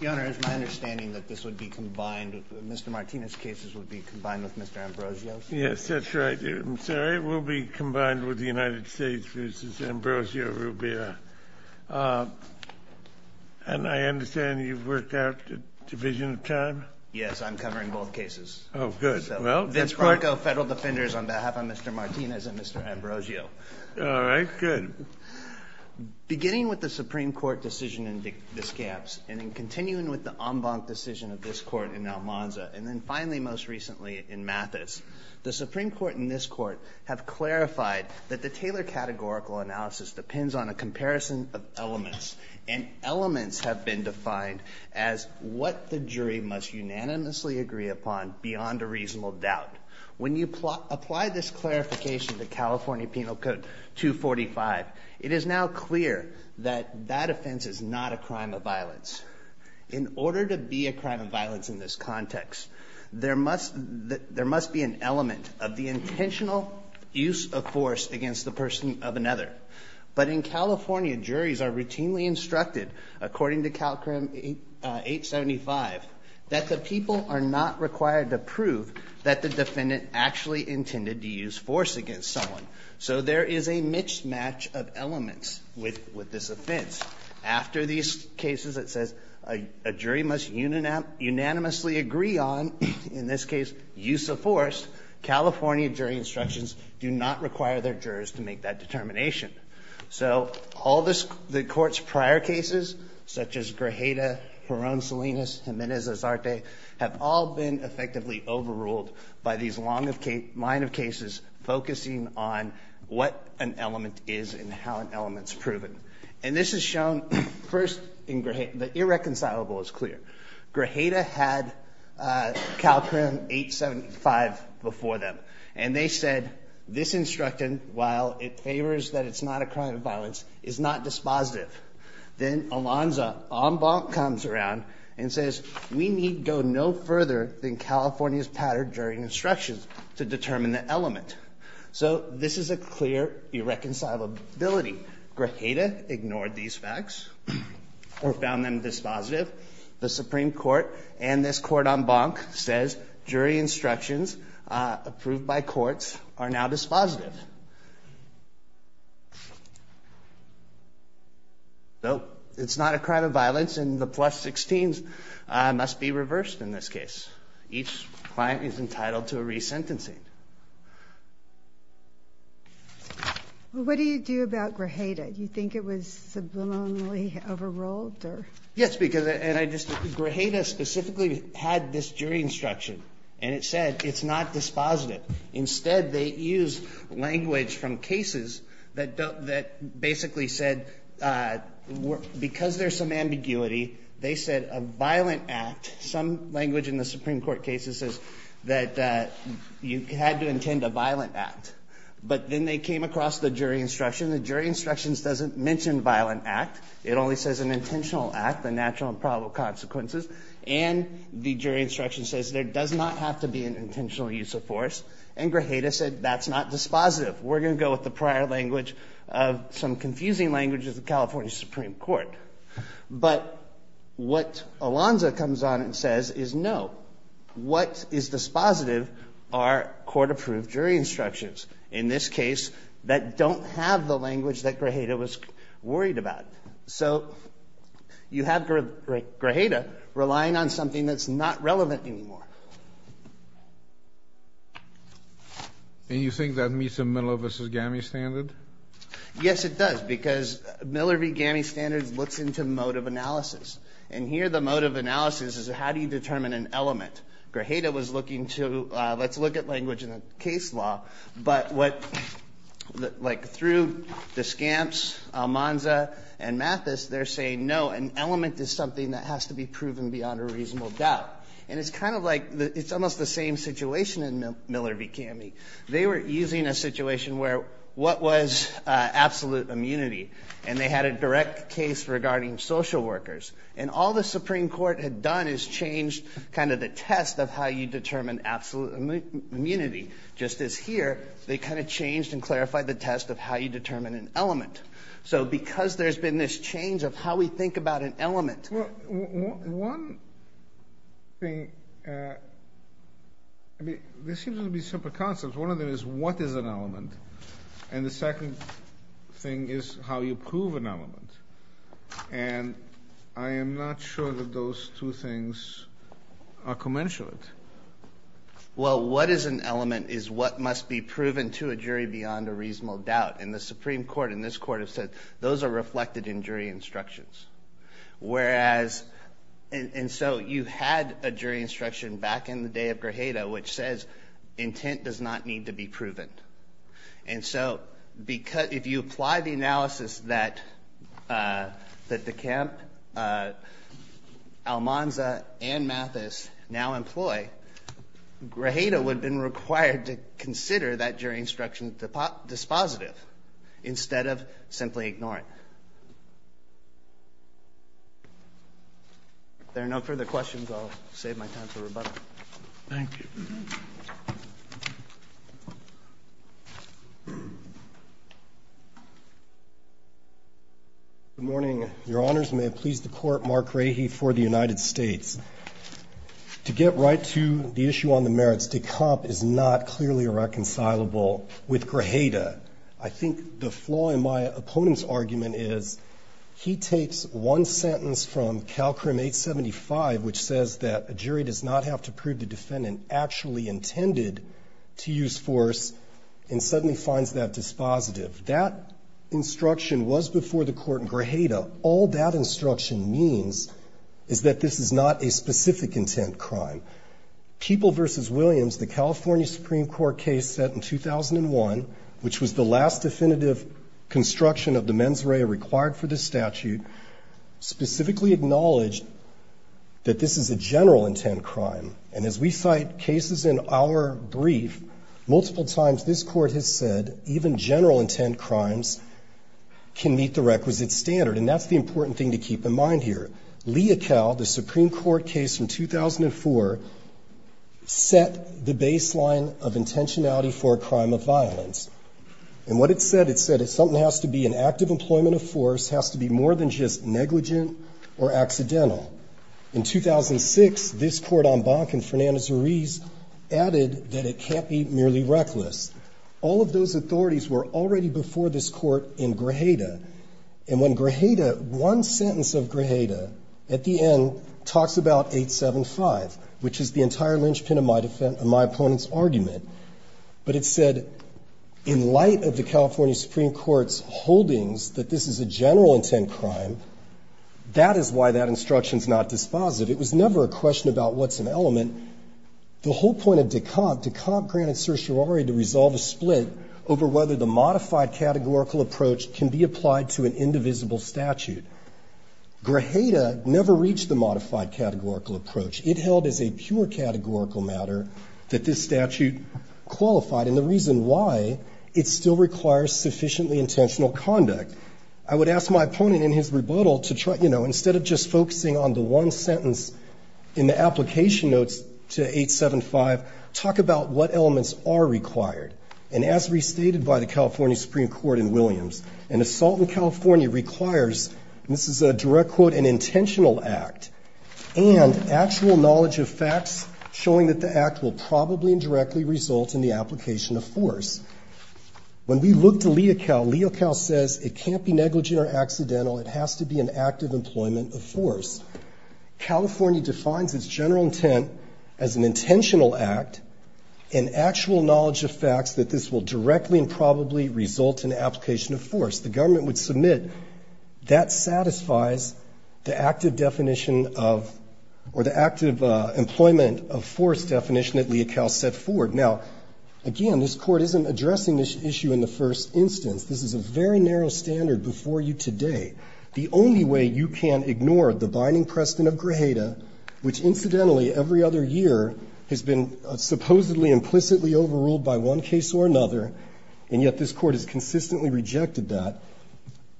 Your Honor, it's my understanding that Mr. Martinez's cases would be combined with Mr. Ambrosio's. Yes, that's right. It will be combined with the United States v. Ambrosio Rubio. And I understand you've worked out a division of time? Yes, I'm covering both cases. Oh, good. Vince Franco, Federal Defenders, on behalf of Mr. Martinez and Mr. Ambrosio. All right, good. Beginning with the Supreme Court decision in Descaps, and then continuing with the en banc decision of this Court in Almanza, and then finally most recently in Mathis, the Supreme Court and this Court have clarified that the Taylor Categorical Analysis depends on a comparison of elements. And elements have been defined as what the jury must unanimously agree upon beyond a reasonable doubt. When you apply this clarification to California Penal Code 245, it is now clear that that offense is not a crime of violence. In order to be a crime of violence in this context, there must be an element of the intentional use of force against the person of another. But in California, juries are routinely instructed, according to CalCrim 875, that the people are not required to prove that the defendant actually intended to use force against someone. So there is a mismatch of elements with this offense. After these cases, it says a jury must unanimously agree on, in this case, use of force. California jury instructions do not require their jurors to make that determination. So all the Court's prior cases, such as Grajeda, Jaron Salinas, Jimenez-Azarte, have all been effectively overruled by these line of cases focusing on what an element is and how an element is proven. And this is shown first in Grajeda. The irreconcilable is clear. Grajeda had CalCrim 875 before them, and they said, this instruction, while it favors that it's not a crime of violence, is not dispositive. Then Alonza en banc comes around and says, we need go no further than California's pattern during instructions to determine the element. So this is a clear irreconcilability. Grajeda ignored these facts or found them dispositive. The Supreme Court and this court en banc says jury instructions approved by courts are now dispositive. So it's not a crime of violence, and the plus 16s must be reversed in this case. Each client is entitled to a resentencing. What do you do about Grajeda? Do you think it was subliminally overruled, or? Yes, because, and I just, Grajeda specifically had this jury instruction, and it said it's not dispositive. Instead, they used language from cases that basically said, because there's some ambiguity, they said a violent act, some language in the Supreme Court cases says that you had to intend a violent act. But then they came across the jury instruction. The jury instruction doesn't mention violent act. It only says an intentional act, the natural and probable consequences. And the jury instruction says there does not have to be an intentional use of force. And Grajeda said that's not dispositive. We're going to go with the prior language of some confusing language of the California Supreme Court. But what Alonzo comes on and says is no. What is dispositive are court-approved jury instructions, in this case, that don't have the language that Grajeda was worried about. So you have Grajeda relying on something that's not relevant anymore. And you think that meets a Miller v. Gami standard? Yes, it does, because Miller v. Gami standards looks into mode of analysis. And here the mode of analysis is how do you determine an element? Grajeda was looking to let's look at language in a case law. But what, like, through the scamps, Almanza and Mathis, they're saying no, an element is something that has to be proven beyond a reasonable doubt. And it's kind of like it's almost the same situation in Miller v. Gami. They were using a situation where what was absolute immunity? And they had a direct case regarding social workers. And all the Supreme Court had done is changed kind of the test of how you determine absolute immunity. Just as here, they kind of changed and clarified the test of how you determine an element. So because there's been this change of how we think about an element. Well, one thing, I mean, there seems to be simple concepts. One of them is what is an element. And the second thing is how you prove an element. And I am not sure that those two things are commensurate. Well, what is an element is what must be proven to a jury beyond a reasonable doubt. And the Supreme Court and this Court have said those are reflected in jury instructions. Whereas, and so you had a jury instruction back in the day of Grajeda, which says intent does not need to be proven. And so if you apply the analysis that DeCamp, Almanza, and Mathis now employ, Grajeda would have been required to consider that jury instruction dispositive instead of simply ignoring it. If there are no further questions, I'll save my time for rebuttal. Thank you. Good morning. Your Honors, may it please the Court, Mark Rahe for the United States. To get right to the issue on the merits, DeCamp is not clearly reconcilable with Grajeda. I think the flaw in my opponent's argument is he takes one sentence from Calcrim 875, which says that a jury does not have to prove the defendant actually intended to use force, and suddenly finds that dispositive. That instruction was before the Court in Grajeda. All that instruction means is that this is not a specific intent crime. People v. Williams, the California Supreme Court case set in 2001, which was the last definitive construction of the mens rea required for this statute, specifically acknowledged that this is a general intent crime. And as we cite cases in our brief, multiple times this Court has said even general intent crimes can meet the requisite standard. And that's the important thing to keep in mind here. Leocal, the Supreme Court case from 2004, set the baseline of intentionality for a crime of violence. And what it said, it said if something has to be an act of employment of force, it has to be more than just negligent or accidental. In 2006, this Court en banc in Fernandez-Uriz added that it can't be merely reckless. All of those authorities were already before this Court in Grajeda. And when Grajeda, one sentence of Grajeda at the end talks about 875, which is the entire linchpin of my opponent's argument. But it said in light of the California Supreme Court's holdings that this is a general intent crime, that is why that instruction is not dispositive. It was never a question about what's an element. The whole point of Decompt, Decompt granted certiorari to resolve a split over whether the modified categorical approach can be applied to an indivisible statute. Grajeda never reached the modified categorical approach. It held as a pure categorical matter that this statute qualified. And the reason why, it still requires sufficiently intentional conduct. I would ask my opponent in his rebuttal to try, you know, instead of just focusing on the one sentence in the application notes to 875, talk about what elements are required. And as restated by the California Supreme Court in Williams, an assault in California requires, and this is a direct quote, an intentional act, and actual knowledge of facts showing that the act will probably and directly result in the application of force. When we look to Leocal, Leocal says it can't be negligent or accidental. It has to be an act of employment of force. California defines its general intent as an intentional act and actual knowledge of facts that this will directly and probably result in application of force. The government would submit that satisfies the active definition of, or the active employment of force definition that Leocal set forward. Now, again, this Court isn't addressing this issue in the first instance. This is a very narrow standard before you today. The only way you can ignore the binding precedent of Grajeda, which incidentally every other year has been supposedly implicitly overruled by one case or another, and yet this Court has consistently rejected that,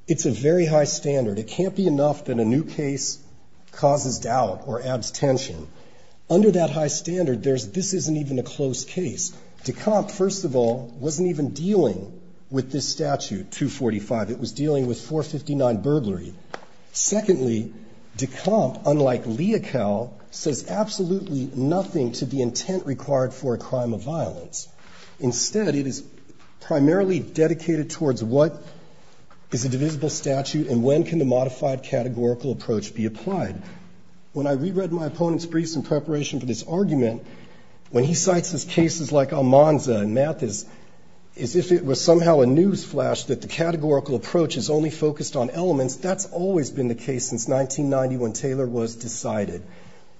it's a very high standard. It can't be enough that a new case causes doubt or adds tension. Under that high standard, there's this isn't even a close case. Decomp, first of all, wasn't even dealing with this statute, 245. It was dealing with 459 burglary. Secondly, decomp, unlike Leocal, says absolutely nothing to the intent required for a crime of violence. Instead, it is primarily dedicated towards what is a divisible statute and when can the modified categorical approach be applied. When I reread my opponent's briefs in preparation for this argument, when he cites these cases like Almanza and Mathis, as if it was somehow a news flash that the case since 1990 when Taylor was decided.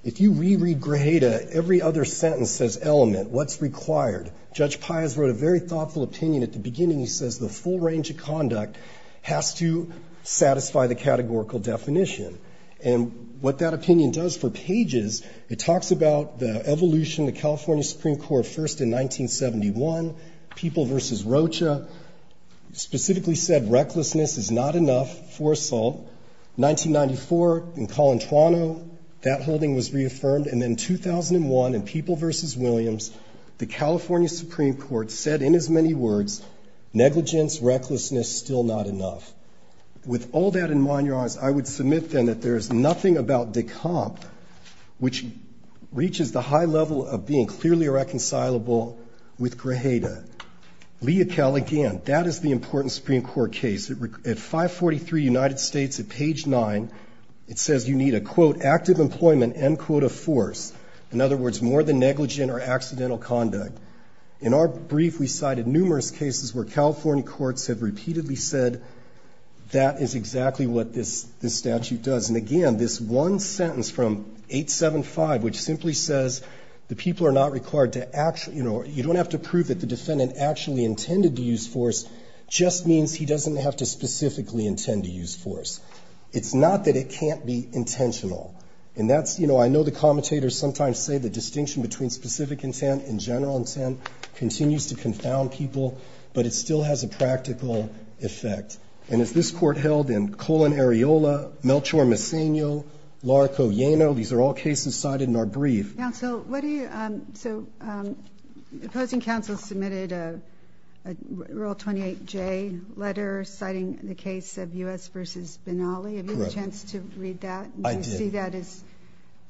If you reread Grajeda, every other sentence says element. What's required? Judge Pius wrote a very thoughtful opinion at the beginning. He says the full range of conduct has to satisfy the categorical definition. And what that opinion does for pages, it talks about the evolution of the California Supreme Court first in 1971, people versus Rocha, specifically said recklessness is not enough for assault. 1994 in Colentrano, that holding was reaffirmed. And then 2001 in people versus Williams, the California Supreme Court said in its many words, negligence, recklessness still not enough. With all that in mind, Your Honors, I would submit then that there is nothing about decomp which reaches the high level of being clearly reconcilable with Grajeda. Leocal again, that is the important Supreme Court case. At 543 United States, at page 9, it says you need a, quote, active employment and, quote, a force. In other words, more than negligent or accidental conduct. In our brief, we cited numerous cases where California courts have repeatedly said that is exactly what this statute does. And again, this one sentence from 875, which simply says the people are not required to actually, you know, you don't have to prove that the defendant actually specifically intend to use force. It's not that it can't be intentional. And that's, you know, I know the commentators sometimes say the distinction between specific intent and general intent continues to confound people, but it still has a practical effect. And as this Court held in Colon-Areola, Melchor-Mesenyo, Larco-Yeno, these are all cases cited in our brief. Counsel, what do you – so opposing counsel submitted a Rule 28J letter citing the case of U.S. v. Benally. Correct. Have you had a chance to read that? I did. Do you see that as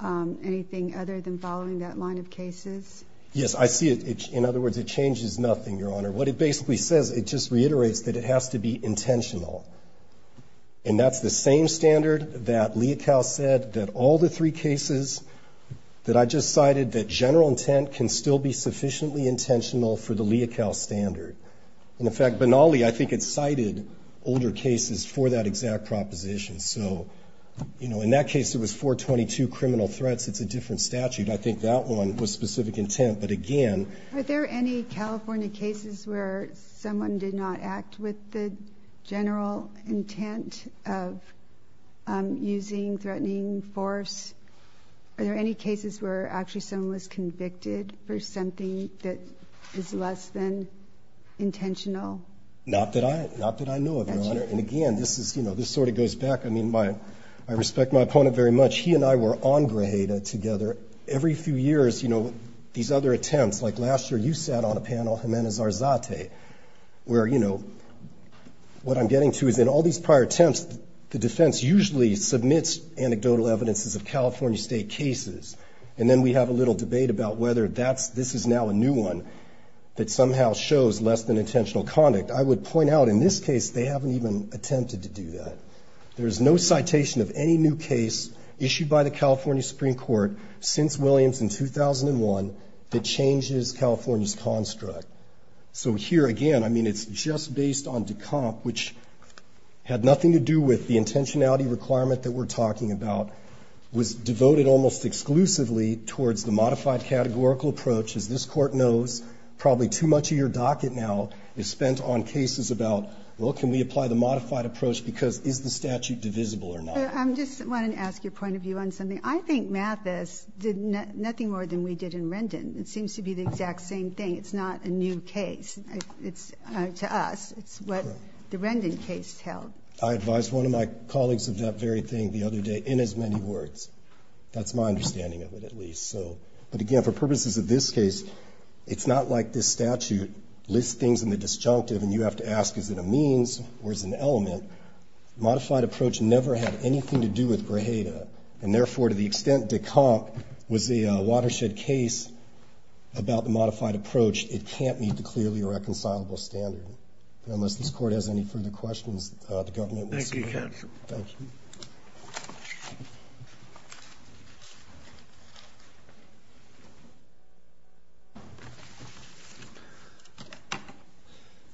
anything other than following that line of cases? Yes, I see it. In other words, it changes nothing, Your Honor. What it basically says, it just reiterates that it has to be intentional. And that's the same standard that Leocal said that all the three cases that I just cited, that general intent can still be sufficiently intentional for the Leocal standard. And, in fact, Benally, I think it cited older cases for that exact proposition. So, you know, in that case it was 422, criminal threats. It's a different statute. I think that one was specific intent. But, again – Are there any California cases where someone did not act with the general intent of using threatening force? Are there any cases where actually someone was convicted for something that is less than intentional? Not that I know of, Your Honor. And, again, this is – you know, this sort of goes back – I mean, I respect my opponent very much. He and I were on Grajeda together. Every few years, you know, these other attempts – like last year you sat on a panel, Jimenez-Arzate, where, you know, what I'm getting to is in all these prior attempts the defense usually submits anecdotal evidences of California State cases. And then we have a little debate about whether that's – this is now a new one that somehow shows less than intentional conduct. I would point out in this case they haven't even attempted to do that. There is no citation of any new case issued by the California Supreme Court since Williams in 2001 that changes California's construct. So here, again, I mean, it's just based on Decomp, which had nothing to do with the intentionality requirement that we're talking about, was devoted almost exclusively towards the modified categorical approach. As this Court knows, probably too much of your docket now is spent on cases about, well, can we apply the modified approach because is the statute divisible or not? I just wanted to ask your point of view on something. I think Mathis did nothing more than we did in Rendon. It seems to be the exact same thing. It's not a new case. It's, to us, it's what the Rendon case held. I advised one of my colleagues of that very thing the other day in as many words. That's my understanding of it at least. So, but again, for purposes of this case, it's not like this statute lists things in the disjunctive and you have to ask is it a means or is it an element. Modified approach never had anything to do with Grajeda, and therefore to the extent that DeConk was a watershed case about the modified approach, it can't meet the clearly reconcilable standard. Unless this Court has any further questions, the government will support it. Thank you, counsel. Thank you.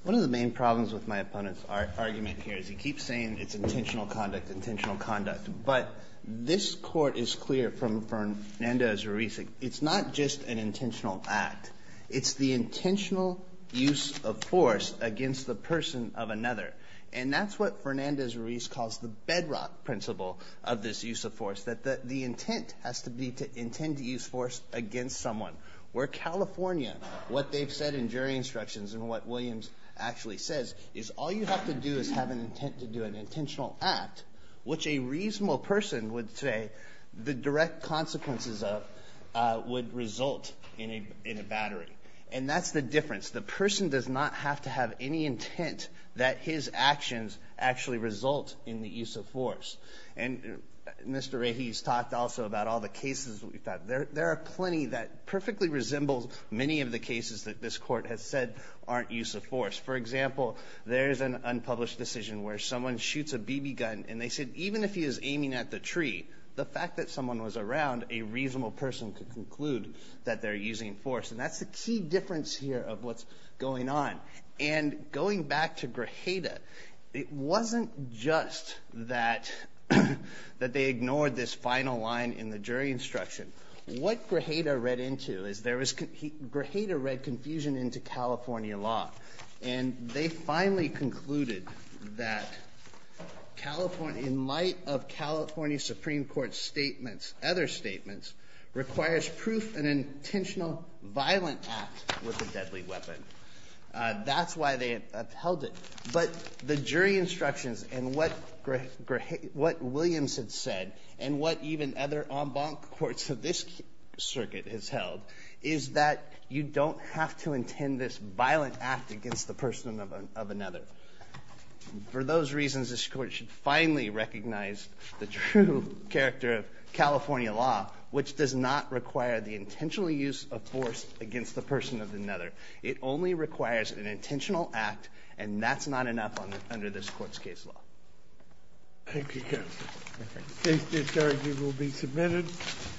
One of the main problems with my opponent's argument here is he keeps saying it's intentional conduct, intentional conduct. But this Court is clear from Fernandez-Ruiz. It's not just an intentional act. It's the intentional use of force against the person of another. And that's what Fernandez-Ruiz calls the bedrock principle of this use of force, that the intent has to be to intend to use force against someone. Where California, what they've said in jury instructions and what Williams actually says is all you have to do is have an intent to do an intentional act, which a reasonable person would say the direct consequences of would result in a battery. And that's the difference. The person does not have to have any intent that his actions actually result in the use of force. And Mr. Rahe has talked also about all the cases we've had. There are plenty that perfectly resemble many of the cases that this Court has said aren't use of force. For example, there's an unpublished decision where someone shoots a BB gun and they said even if he is aiming at the tree, the fact that someone was around, a reasonable person could conclude that they're using force. And that's the key difference here of what's going on. And going back to Grajeda, it wasn't just that they ignored this final line in the jury instruction. What Grajeda read into is there was – Grajeda read confusion into California law, and they finally concluded that California – in light of California Supreme Court's statements, other statements, requires proof an intentional violent act with a deadly weapon. That's why they upheld it. But the jury instructions and what Williams had said and what even other courts of this circuit has held is that you don't have to intend this violent act against the person of another. For those reasons, this Court should finally recognize the true character of California law, which does not require the intentional use of force against the person of another. It only requires an intentional act, and that's not enough under this Court's case law. Thank you, Counselor. The case discharge will be submitted.